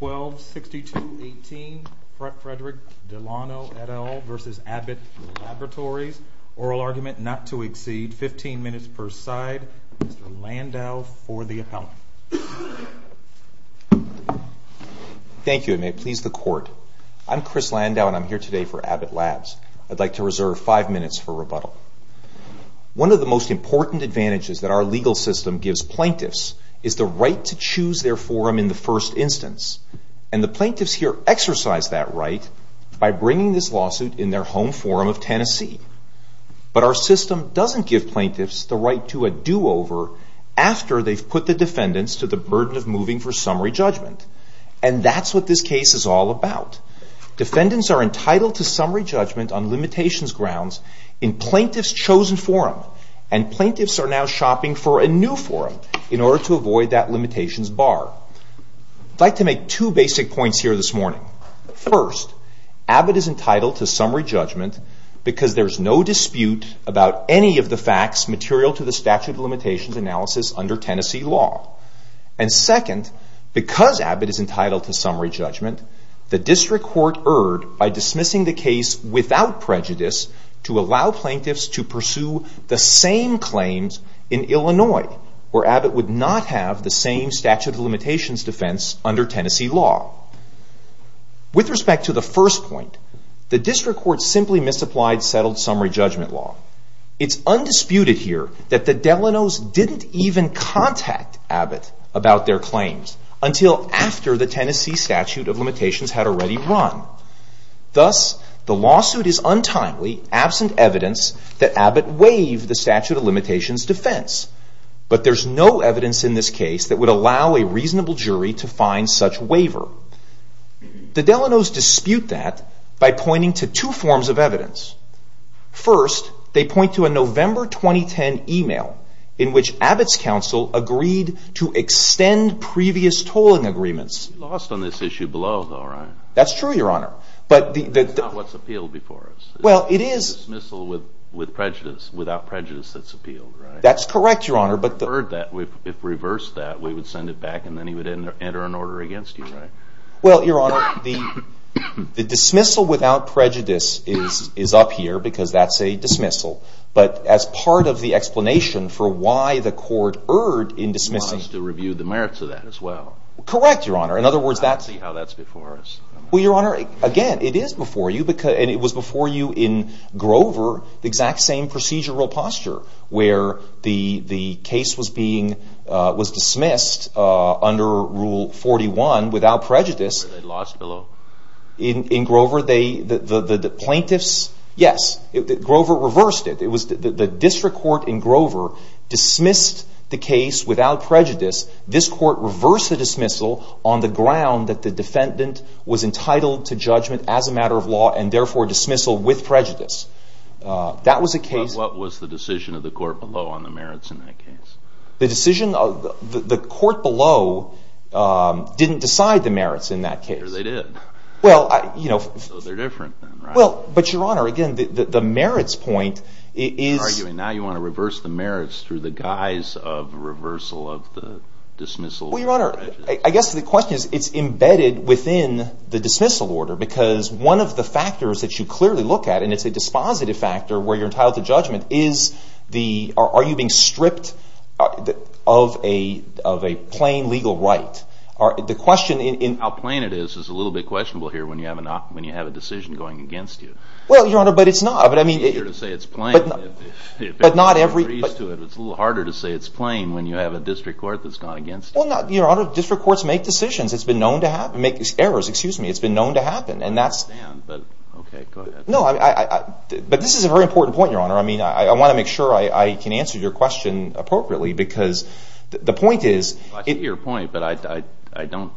12-62-18 Fredrick Delano et al v. Abbott Laboratories Oral Argument not to exceed 15 minutes per side Mr. Landau for the appellant. Thank you and may it please the court. I'm Chris Landau and I'm here today for Abbott Labs. I'd like to reserve 5 minutes for rebuttal. One of the most important advantages that our legal system gives plaintiffs is the right to choose their forum in the first instance. And the plaintiffs here exercise that right by bringing this lawsuit in their home forum of Tennessee. But our system doesn't give plaintiffs the right to a do-over after they've put the defendants to the burden of moving for summary judgment. And that's what this case is all about. Defendants are entitled to summary judgment on limitations grounds in plaintiff's chosen forum. And plaintiffs are now shopping for a new forum in order to avoid that limitations bar. I'd like to make two basic points here this morning. First, Abbott is entitled to summary judgment because there's no dispute about any of the facts material to the statute of limitations analysis under Tennessee law. And second, because Abbott is entitled to summary judgment, the district court erred by dismissing the case without prejudice to allow plaintiffs to pursue the same claims in Illinois where Abbott would not have the same statute of limitations defense under Tennessee law. With respect to the first point, the district court simply misapplied settled summary judgment law. It's undisputed here that the Delano's didn't even contact Abbott about their claims until after the untimely, absent evidence that Abbott waived the statute of limitations defense. But there's no evidence in this case that would allow a reasonable jury to find such waiver. The Delano's dispute that by pointing to two forms of evidence. First, they point to a November 2010 email in which Abbott's counsel agreed to extend previous tolling agreements. You lost on this issue below though, right? That's true, your honor. But that's not what's appealed before us. Well, it is. Dismissal with prejudice, without prejudice that's appealed, right? That's correct, your honor. But if reversed that, we would send it back and then he would enter an order against you, right? Well, your honor, the dismissal without prejudice is up here because that's a dismissal. But as part of the explanation for why the court erred in dismissing. You want us to review the merits of that as well. Correct, your honor. In other words, that's. I don't see how that's before us. Well, your honor, again, it is before you. And it was before you in Grover, the exact same procedural posture where the case was dismissed under Rule 41 without prejudice. They lost below. In Grover, the plaintiffs, yes. Grover reversed it. The district court in Grover dismissed the case without prejudice. This court reversed the dismissal on the ground that the defendant was entitled to judgment as a matter of law and, therefore, dismissal with prejudice. That was a case. But what was the decision of the court below on the merits in that case? The decision of the court below didn't decide the merits in that case. Or they did. Well, you know. So they're different then, right? Well, but your honor, again, the merits point is. You're arguing now you want to reverse the merits through the guise of reversal of the dismissal with prejudice. I guess the question is, it's embedded within the dismissal order. Because one of the factors that you clearly look at, and it's a dispositive factor where you're entitled to judgment, is the, are you being stripped of a plain legal right? The question in. How plain it is is a little bit questionable here when you have a decision going against you. Well, your honor, but it's not. It's easier to say it's plain if everyone agrees to it, but it's a little harder to say it's plain when you have a district court that's gone against you. Well, your honor, district courts make decisions. It's been known to make errors. Excuse me. It's been known to happen. I understand, but okay, go ahead. No, but this is a very important point, your honor. I mean, I want to make sure I can answer your question appropriately because the point is. I see your point, but I don't,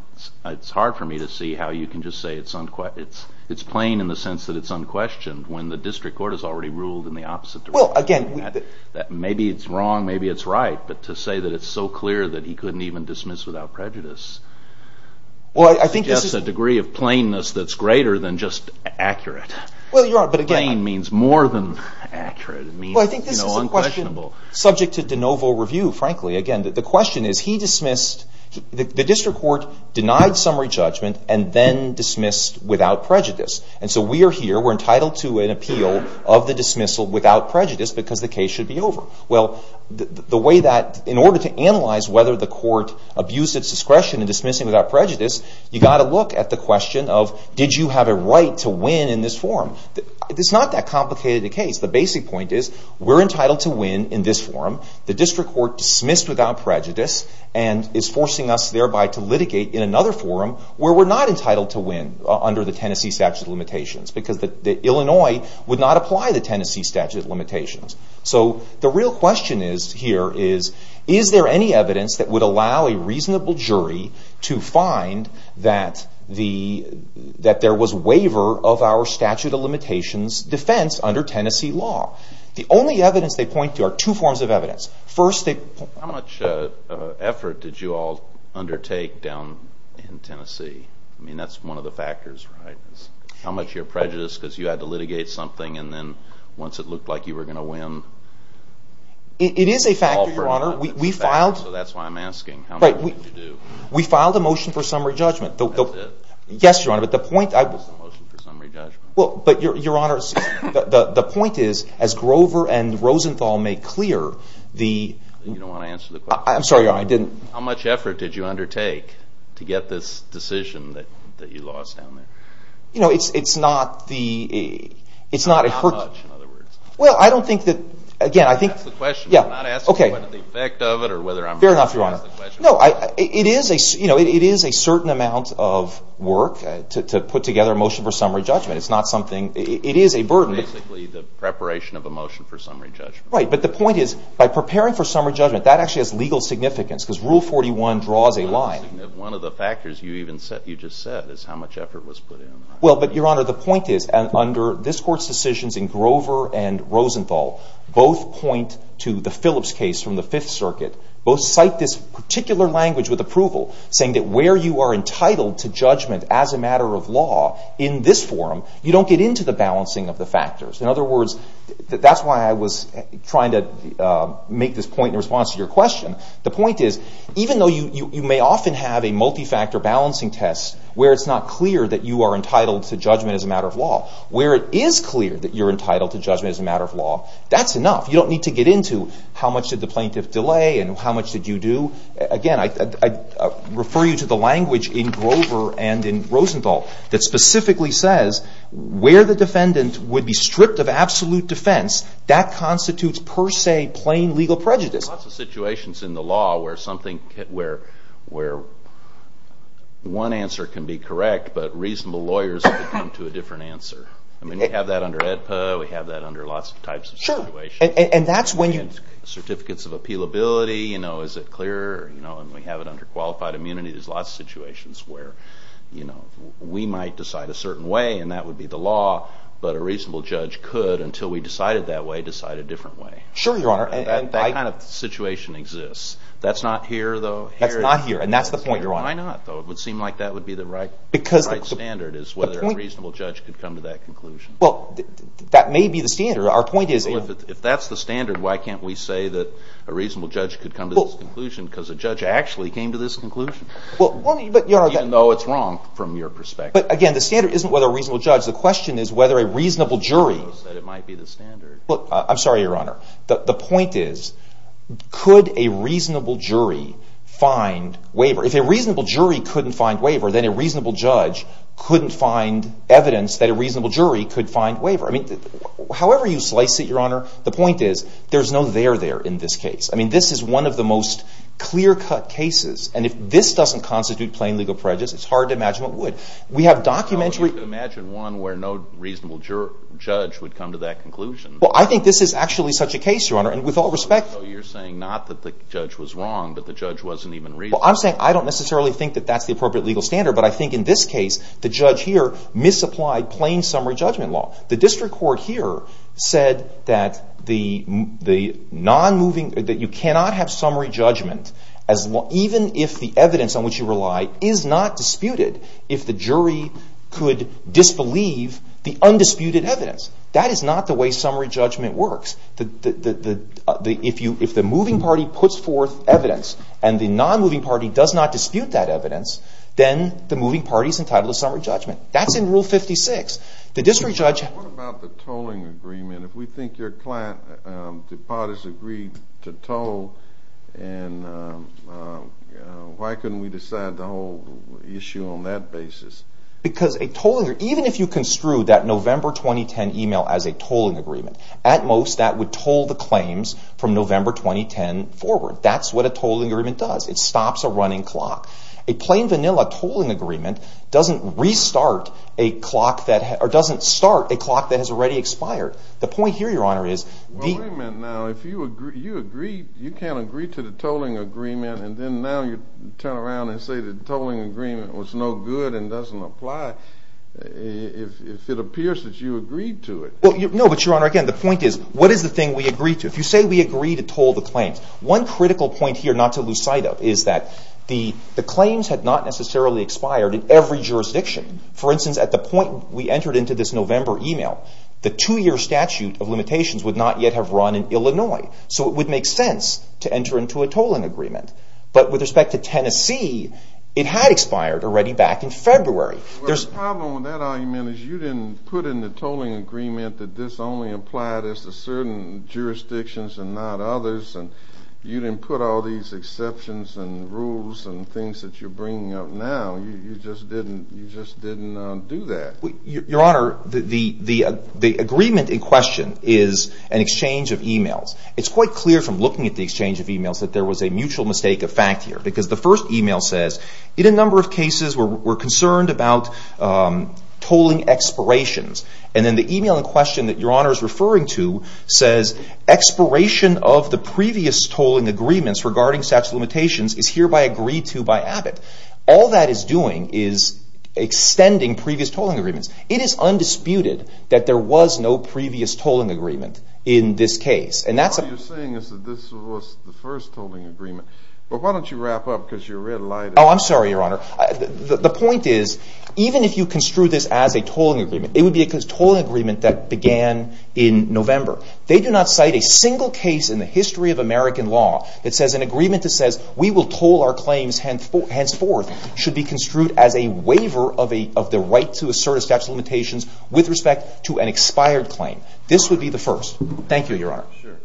it's hard for me to see how you can just say it's unquestioned. It's plain in the sense that it's unquestioned when the district court has already ruled in the opposite direction. Well, again. Maybe it's wrong, maybe it's right, but to say that it's so clear that he couldn't even dismiss without prejudice. Well, I think this is. Suggests a degree of plainness that's greater than just accurate. Well, your honor, but again. Plain means more than accurate. It means unquestionable. Well, I think this is a question subject to de novo review, frankly. Again, the question is he dismissed, the district court denied summary judgment and then dismissed without prejudice. And so we are here, we're entitled to an appeal of the dismissal without prejudice because the case should be over. Well, the way that, in order to analyze whether the court abused its discretion in dismissing without prejudice, you got to look at the question of did you have a right to win in this forum? It's not that complicated a case. The basic point is we're entitled to win in this forum. The district court dismissed without prejudice and is forcing us thereby to litigate in another forum where we're not entitled to win under the Tennessee statute of limitations. Because Illinois would not apply the Tennessee statute of limitations. So the real question is here is, is there any evidence that would allow a reasonable jury to find that there was waiver of our statute of limitations defense under Tennessee law? The only evidence they point to are two forms of evidence. First, they point to... How much effort did you all undertake down in Tennessee? I mean, that's one of the factors. How much of your prejudice because you had to litigate something and then once it looked like you were going to win... It is a factor, Your Honor. We filed... That's why I'm asking. How much did you do? We filed a motion for summary judgment. That's it? Yes, Your Honor. But the point... What was the motion for summary judgment? Your Honor, the point is as Grover and Rosenthal make clear the... You don't want to answer the question? I'm sorry, Your Honor. I didn't... How much effort did you undertake to get this decision that you lost down there? It's not the... How much, in other words? Well, I don't think that, again, I think... You didn't ask the question. I'm not asking what the effect of it or whether I'm... Fair enough, Your Honor. It is a certain amount of work to put together a motion for summary judgment. It's not something... It is a burden. Basically, the preparation of a motion for summary judgment. Right, but the point is by preparing for summary judgment, that actually has legal significance because Rule 41 draws a line. One of the factors you just said is how much effort was put in. Well, but Your Honor, the point is under this Court's decisions in Grover and Rosenthal, both point to the Phillips case from the Fifth Circuit. Both cite this particular language with approval, saying that where you are entitled to judgment as a matter of law in this forum, you don't get into the balancing of the factors. In other words, that's why I was trying to make this point in response to your question. The point is, even though you may often have a multi-factor balancing test where it's not clear that you are entitled to judgment as a matter of law, where it is clear that you're entitled to judgment as a matter of law, that's enough. You don't need to get into how much did the plaintiff delay and how much did you do. Again, I refer you to the language in Grover and in Rosenthal that specifically says where the defendant would be stripped of absolute defense, that constitutes per se plain legal prejudice. There's lots of situations in the law where one answer can be correct, but reasonable lawyers can come to a different answer. I mean, we have that under AEDPA, we have that under lots of types of situations. And that's when you... Certificates of appealability, you know, is it clear? You know, and we have it under qualified immunity. There's lots of situations where, you know, we might decide a certain way and that would be the law, but a reasonable judge could, until we decided that way, decide a different way. Sure, Your Honor. And that kind of situation exists. That's not here, though. That's not here, and that's the point, Your Honor. Why not, though? It would seem like that would be the right standard, is whether a reasonable judge could come to that conclusion. Well, that may be the standard. Our point is... If that's the standard, why can't we say that a reasonable judge could come to this conclusion because a judge actually came to this conclusion, even though it's wrong from your perspective. But again, the standard isn't whether a reasonable judge. The question is whether a reasonable jury... ...says that it might be the standard. Look, I'm sorry, Your Honor. The point is, could a reasonable jury find waiver? If a reasonable jury couldn't find waiver, then a reasonable judge couldn't find evidence that a reasonable jury could find waiver. I mean, however you slice it, Your Honor, the point is, there's no there there in this case. I mean, this is one of the most clear-cut cases, and if this doesn't constitute plain legal prejudice, it's hard to imagine what would. We have documentary... Well, you could imagine one where no reasonable judge would come to that conclusion. Well, I think this is actually such a case, Your Honor, and with all respect... So you're saying not that the judge was wrong, but the judge wasn't even reasonable. Well, I'm saying I don't necessarily think that that's the appropriate legal standard, but I think in this case, the judge here misapplied plain summary judgment law. The district court here said that the non-moving... that you cannot have summary judgment, even if the evidence on which you rely is not disputed, if the jury could disbelieve the undisputed evidence. That is not the way summary judgment works. If the moving party puts forth evidence and the non-moving party does not dispute that evidence, then the moving party is entitled to summary judgment. That's in Rule 56. The district judge... What about the tolling agreement? If we think your client, the parties agreed to toll, and why couldn't we decide the whole issue on that basis? Because a tolling agreement... Even if you construed that November 2010 email as a tolling agreement, at most that would toll the claims from November 2010 forward. That's what a tolling agreement does. It stops a running clock. A plain vanilla tolling agreement doesn't restart a clock that... or doesn't start a clock that has already expired. The point here, Your Honor, is... The agreement now, if you agree... you can't agree to the tolling agreement, and then now you turn around and say the tolling agreement was no good and doesn't apply if it appears that you agreed to it. No, but Your Honor, again, the point is, what is the thing we agreed to? If you say we agreed to toll the claims, one critical point here not to lose sight of is that the claims had not necessarily expired in every jurisdiction. For instance, at the point we entered into this November email, the two-year statute of limitations would not yet have run in Illinois, so it would make sense to enter into a tolling agreement. But with respect to Tennessee, it had expired already back in February. The problem with that argument is you didn't put in the tolling agreement that this only applied as to certain jurisdictions and not others, and you didn't put all these exceptions and rules and things that you're bringing up now. You just didn't do that. Your Honor, the agreement in question is an exchange of emails. It's quite clear from looking at the exchange of emails that there was a mutual mistake of fact here, because the first email says, in a number of cases, we're concerned about tolling expirations. And then the email in question that Your Honor is referring to says, expiration of the previous tolling agreements regarding statute of limitations is hereby agreed to by Abbott. All that is doing is extending previous tolling agreements. It is undisputed that there was no previous tolling agreement in this case, and that's a... All you're saying is that this was the first tolling agreement. But why don't you wrap up, because your red light is... Oh, I'm sorry, Your Honor. The point is, even if you construe this as a tolling agreement, it would be a tolling agreement that began in November. They do not cite a single case in the history of American law that says an agreement that says we will toll our claims henceforth should be construed as a waiver of the right to assert a statute of limitations with respect to an expired claim. This would be the first. Thank you, Your Honor. Sure.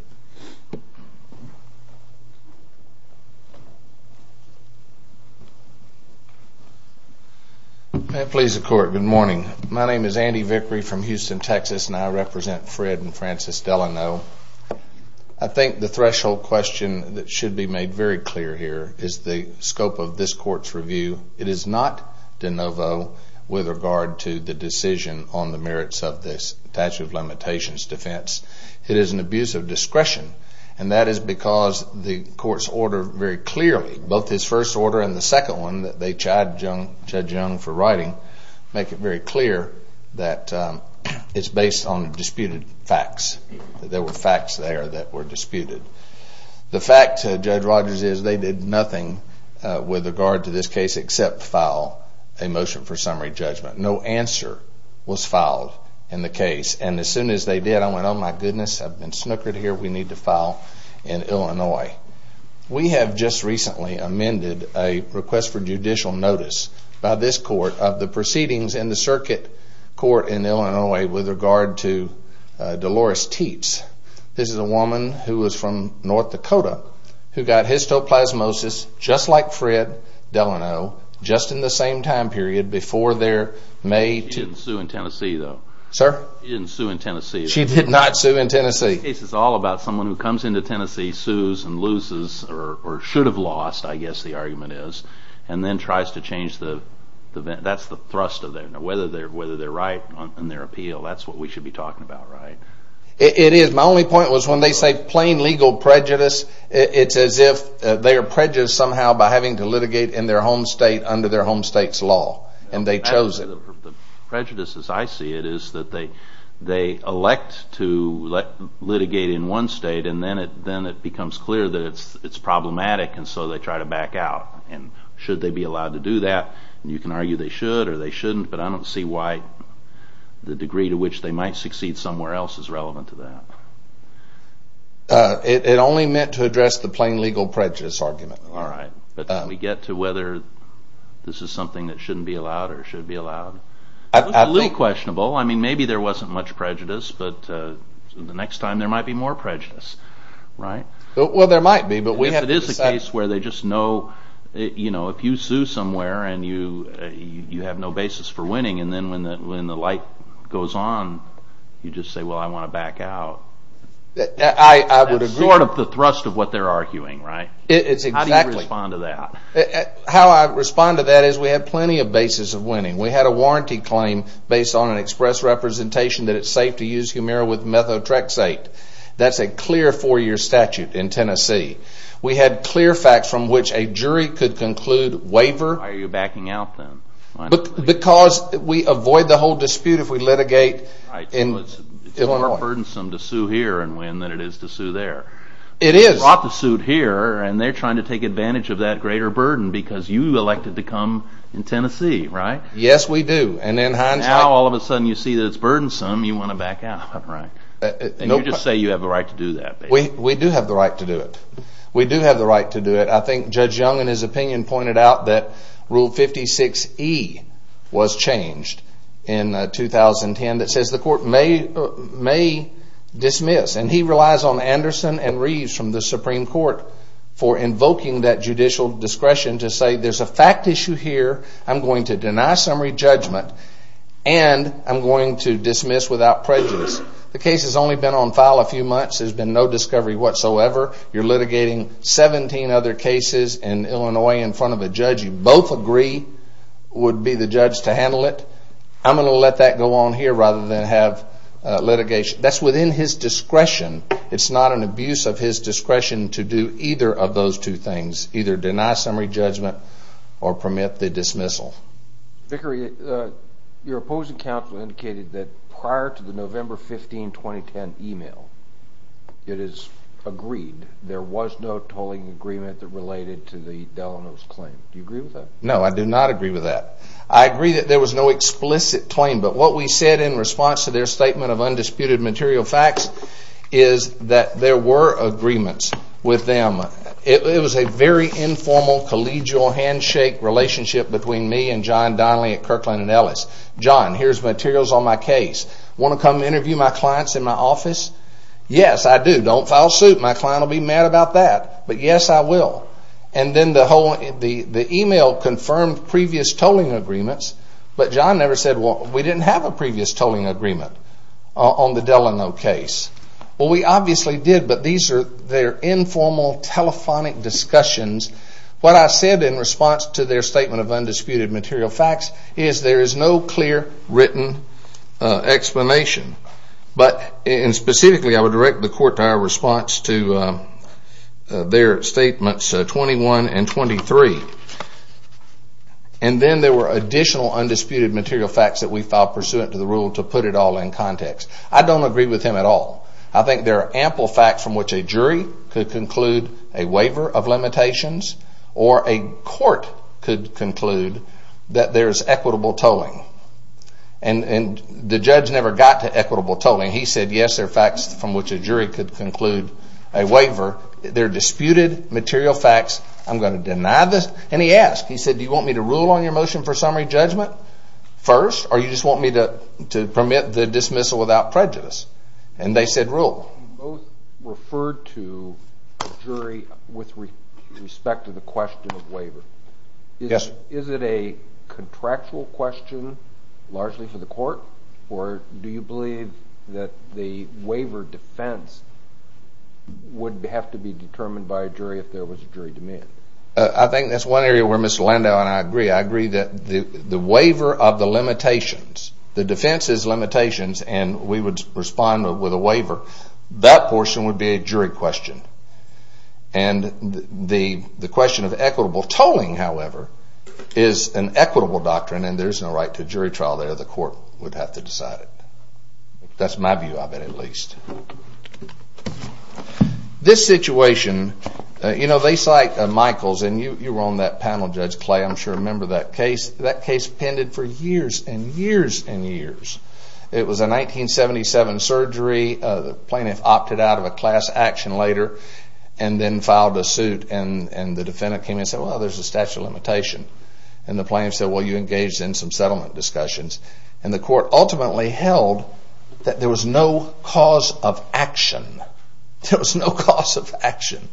May it please the Court, good morning. My name is Andy Vickery from Houston, Texas, and I represent Fred and Frances Delano. I think the threshold question that should be made very clear here is the scope of this Court's review. It is not de novo with regard to the decision on the merits of this statute of limitations defense. It is an abuse of discretion, and that is because the Court's order very clearly, both this first order and the second one that they chadjung for writing, make it very clear that it's based on disputed facts, that there were facts there that were disputed. The fact, Judge Rogers, is they did nothing with regard to this case except file a motion for summary judgment. No answer was filed in the case, and as soon as they did, I went, oh, my goodness, I've been snookered here. We need to file in Illinois. We have just recently amended a request for judicial notice by this Court of the proceedings in the circuit court in Illinois with regard to Dolores Teets. This is a woman who is from North Dakota who got histoplasmosis, just like Fred Delano, just in the same time period before their May 2nd. She didn't sue in Tennessee, though. Sir? She didn't sue in Tennessee. She did not sue in Tennessee. This case is all about someone who comes into Tennessee, sues and loses or should have lost, I guess the argument is, and then tries to change the event. That's the thrust of it, whether they're right in their appeal. That's what we should be talking about, right? It is. My only point was when they say plain legal prejudice, it's as if they are prejudiced somehow by having to litigate in their home state under their home state's law, and they chose it. The prejudice, as I see it, is that they elect to litigate in one state and then it becomes clear that it's problematic, and so they try to back out. Should they be allowed to do that? You can argue they should or they shouldn't, but I don't see why the degree to which they might succeed somewhere else is relevant to that. All right. But can we get to whether this is something that shouldn't be allowed or should be allowed? It's a little questionable. Maybe there wasn't much prejudice, but the next time there might be more prejudice, right? Well, there might be, but we have to decide. If it is a case where they just know if you sue somewhere and you have no basis for winning, and then when the light goes on, you just say, well, I want to back out. I would agree. That's sort of the thrust of what they're arguing, right? How do you respond to that? How I respond to that is we have plenty of basis of winning. We had a warranty claim based on an express representation that it's safe to use Humira with methotrexate. That's a clear four-year statute in Tennessee. We had clear facts from which a jury could conclude waiver. Why are you backing out then? Because we avoid the whole dispute if we litigate. It's more burdensome to sue here and win than it is to sue there. It is. You brought the suit here, and they're trying to take advantage of that greater burden because you elected to come in Tennessee, right? Yes, we do. Now all of a sudden you see that it's burdensome, you want to back out, right? And you just say you have the right to do that. We do have the right to do it. We do have the right to do it. I think Judge Young in his opinion pointed out that Rule 56E was changed in 2010 that says the court may dismiss, and he relies on Anderson and Reeves from the Supreme Court for invoking that judicial discretion to say there's a fact issue here, I'm going to deny summary judgment, and I'm going to dismiss without prejudice. The case has only been on file a few months. There's been no discovery whatsoever. You're litigating 17 other cases in Illinois in front of a judge you both agree would be the judge to handle it. I'm going to let that go on here rather than have litigation. That's within his discretion. It's not an abuse of his discretion to do either of those two things, either deny summary judgment or permit the dismissal. Vickery, your opposing counsel indicated that prior to the November 15, 2010 email, it is agreed there was no tolling agreement that related to the Delano's claim. Do you agree with that? No, I do not agree with that. I agree that there was no explicit claim, but what we said in response to their statement of undisputed material facts is that there were agreements with them. It was a very informal collegial handshake relationship between me and John Donnelly at Kirkland & Ellis. John, here's materials on my case. Want to come interview my clients in my office? Yes, I do. Don't foul suit. My client will be mad about that. But yes, I will. And then the email confirmed previous tolling agreements, but John never said we didn't have a previous tolling agreement on the Delano case. Well, we obviously did, but these are informal telephonic discussions. What I said in response to their statement of undisputed material facts is there is no clear written explanation. But specifically, I would direct the court to our response to their statements 21 and 23. And then there were additional undisputed material facts that we filed pursuant to the rule to put it all in context. I don't agree with him at all. I think there are ample facts from which a jury could conclude a waiver of limitations or a court could conclude that there is equitable tolling. And the judge never got to equitable tolling. He said, yes, there are facts from which a jury could conclude a waiver. They're disputed material facts. I'm going to deny this. And he asked. He said, do you want me to rule on your motion for summary judgment first or do you just want me to permit the dismissal without prejudice? And they said rule. You both referred to a jury with respect to the question of waiver. Is it a contractual question largely for the court or do you believe that the waiver defense would have to be determined by a jury if there was a jury demand? I think that's one area where Mr. Landau and I agree. I agree that the waiver of the limitations, the defense's limitations, and we would respond with a waiver, that portion would be a jury question. And the question of equitable tolling, however, is an equitable doctrine and there's no right to jury trial there. The court would have to decide it. That's my view of it at least. This situation, you know, they cite Michaels and you were on that panel, Judge Clay. I'm sure you remember that case. That case pended for years and years and years. It was a 1977 surgery. The plaintiff opted out of a class action later and then filed a suit and the defendant came in and said, well, there's a statute of limitation. And the plaintiff said, well, you engaged in some settlement discussions. And the court ultimately held that there was no cause of action. There was no cause of action.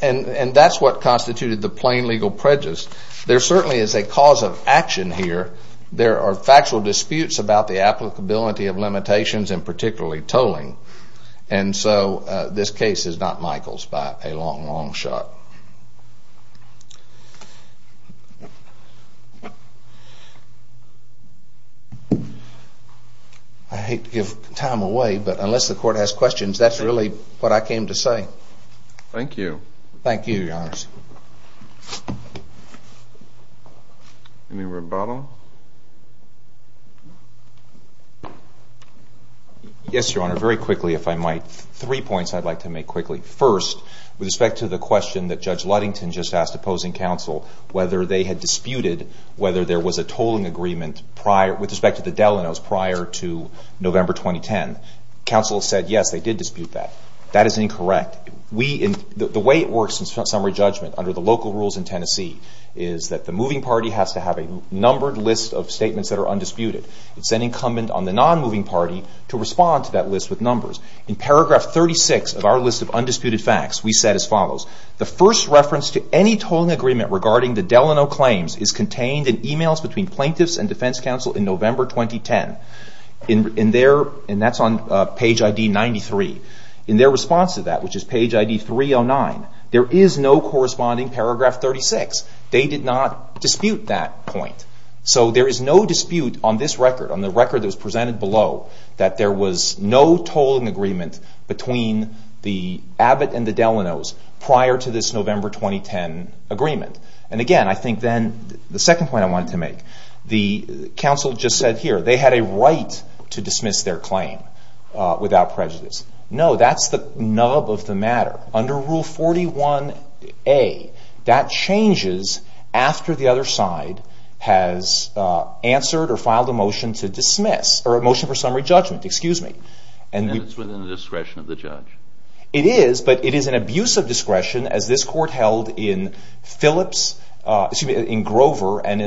And that's what constituted the plain legal prejudice. There certainly is a cause of action here. There are factual disputes about the applicability of limitations and particularly tolling. And so this case is not Michaels by a long, long shot. I hate to give time away, but unless the court has questions, that's really what I came to say. Thank you. Thank you, Your Honor. Any rebuttal? Yes, Your Honor, very quickly if I might. Three points I'd like to make quickly. First, with respect to the question that Judge Ludington just asked opposing counsel, whether they had disputed whether there was a tolling agreement prior with respect to the Delano's prior to November 2010. Counsel said, yes, they did dispute that. That is incorrect. The way it works in summary judgment under the local rules in Tennessee is that the moving party has to have a numbered list of statements that are undisputed. It's an incumbent on the non-moving party to respond to that list with numbers. In paragraph 36 of our list of undisputed facts, we said as follows. The first reference to any tolling agreement regarding the Delano claims is contained in emails between plaintiffs and defense counsel in November 2010. That's on page ID 93. In their response to that, which is page ID 309, there is no corresponding paragraph 36. They did not dispute that point. So there is no dispute on this record, on the record that was presented below, that there was no tolling agreement between the Abbott and the Delano's prior to this November 2010 agreement. Again, I think then the second point I wanted to make, the counsel just said here they had a right to dismiss their claim without prejudice. No, that's the nub of the matter. Under Rule 41A, that changes after the other side has answered or filed a motion to dismiss or a motion for summary judgment, excuse me. And it's within the discretion of the judge. It is, but it is an abuse of discretion as this court held in Phillips, excuse me, in Grover and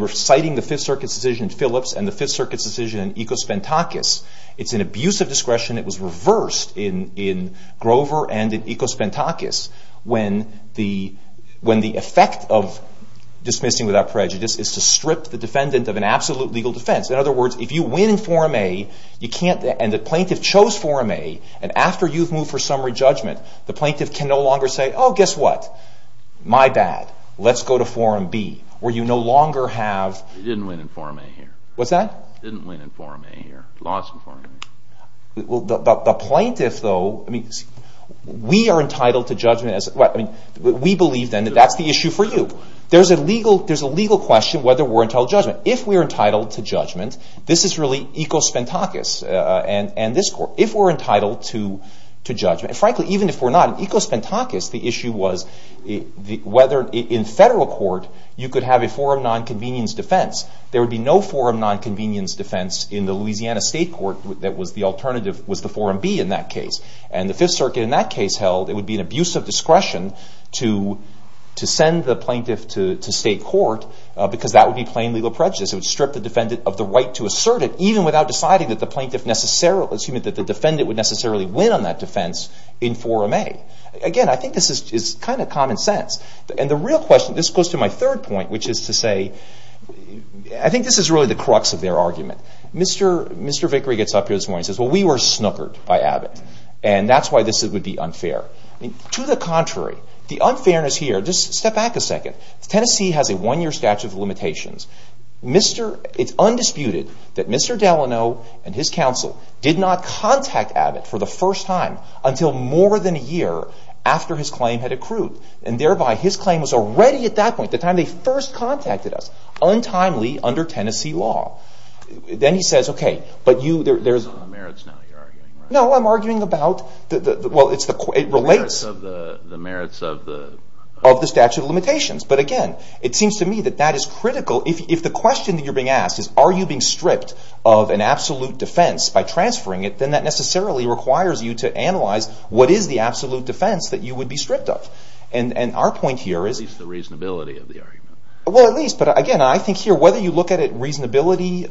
reciting the Fifth Circuit's decision in Phillips and the Fifth Circuit's decision in Ecospantakis. It's an abuse of discretion that was reversed in Grover and in Ecospantakis when the effect of dismissing without prejudice is to strip the defendant of an absolute legal defense. In other words, if you win in Forum A and the plaintiff chose Forum A and after you've moved for summary judgment, the plaintiff can no longer say, oh, guess what? My bad. Let's go to Forum B where you no longer have... He didn't win in Forum A here. What's that? Didn't win in Forum A here. Lost in Forum A. The plaintiff, though, we are entitled to judgment. We believe then that that's the issue for you. There's a legal question whether we're entitled to judgment. But if we are entitled to judgment, this is really Ecospantakis and this court. If we're entitled to judgment, and frankly, even if we're not, in Ecospantakis the issue was whether in federal court you could have a forum nonconvenience defense. There would be no forum nonconvenience defense in the Louisiana State Court that was the alternative, was the Forum B in that case. And the Fifth Circuit in that case held it would be an abuse of discretion to send the plaintiff to state court because that would be plain legal prejudice. It would strip the defendant of the right to assert it even without deciding that the defendant would necessarily win on that defense in Forum A. Again, I think this is kind of common sense. And the real question, this goes to my third point, which is to say, I think this is really the crux of their argument. Mr. Vickery gets up here this morning and says, well, we were snookered by Abbott, and that's why this would be unfair. To the contrary, the unfairness here, just step back a second. Tennessee has a one-year statute of limitations. It's undisputed that Mr. Delano and his counsel did not contact Abbott for the first time until more than a year after his claim had accrued, and thereby his claim was already at that point, the time they first contacted us, untimely under Tennessee law. Then he says, okay, but you there's... Well, it relates... The merits of the... Of the statute of limitations. But again, it seems to me that that is critical. If the question that you're being asked is, are you being stripped of an absolute defense by transferring it, then that necessarily requires you to analyze what is the absolute defense that you would be stripped of. And our point here is... At least the reasonability of the argument. Well, at least. But again, I think here, whether you look at it, reasonability,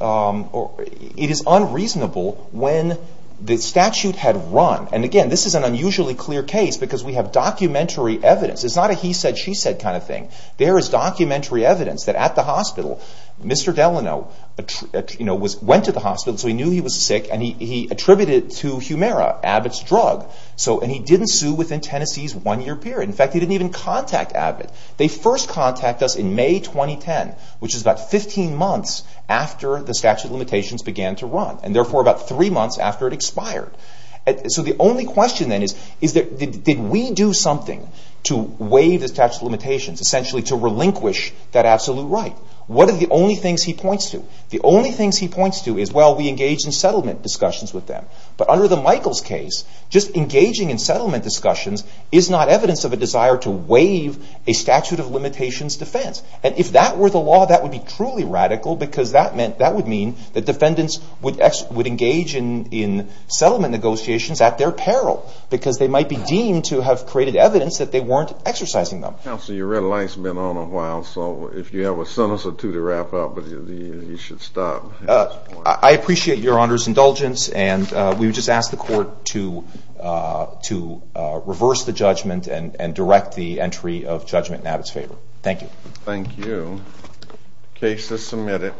it is unreasonable when the statute had run. And again, this is an unusually clear case because we have documentary evidence. It's not a he said, she said kind of thing. There is documentary evidence that at the hospital, Mr. Delano went to the hospital, so he knew he was sick, and he attributed it to Humira, Abbott's drug. And he didn't sue within Tennessee's one-year period. In fact, he didn't even contact Abbott. They first contacted us in May 2010, which is about 15 months after the statute of limitations began to run, and therefore about three months after it expired. So the only question then is, did we do something to waive the statute of limitations, essentially to relinquish that absolute right? What are the only things he points to? The only things he points to is, well, we engaged in settlement discussions with them. But under the Michaels case, just engaging in settlement discussions is not evidence of a desire to waive a statute of limitations defense. And if that were the law, that would be truly radical because that would mean that defendants would engage in settlement negotiations at their peril because they might be deemed to have created evidence that they weren't exercising them. Counsel, your red light has been on a while, so if you have a sentence or two to wrap up, you should stop. I appreciate Your Honor's indulgence, and we would just ask the court to reverse the judgment and direct the entry of judgment in Abbott's favor. Thank you. Thank you. The case is submitted.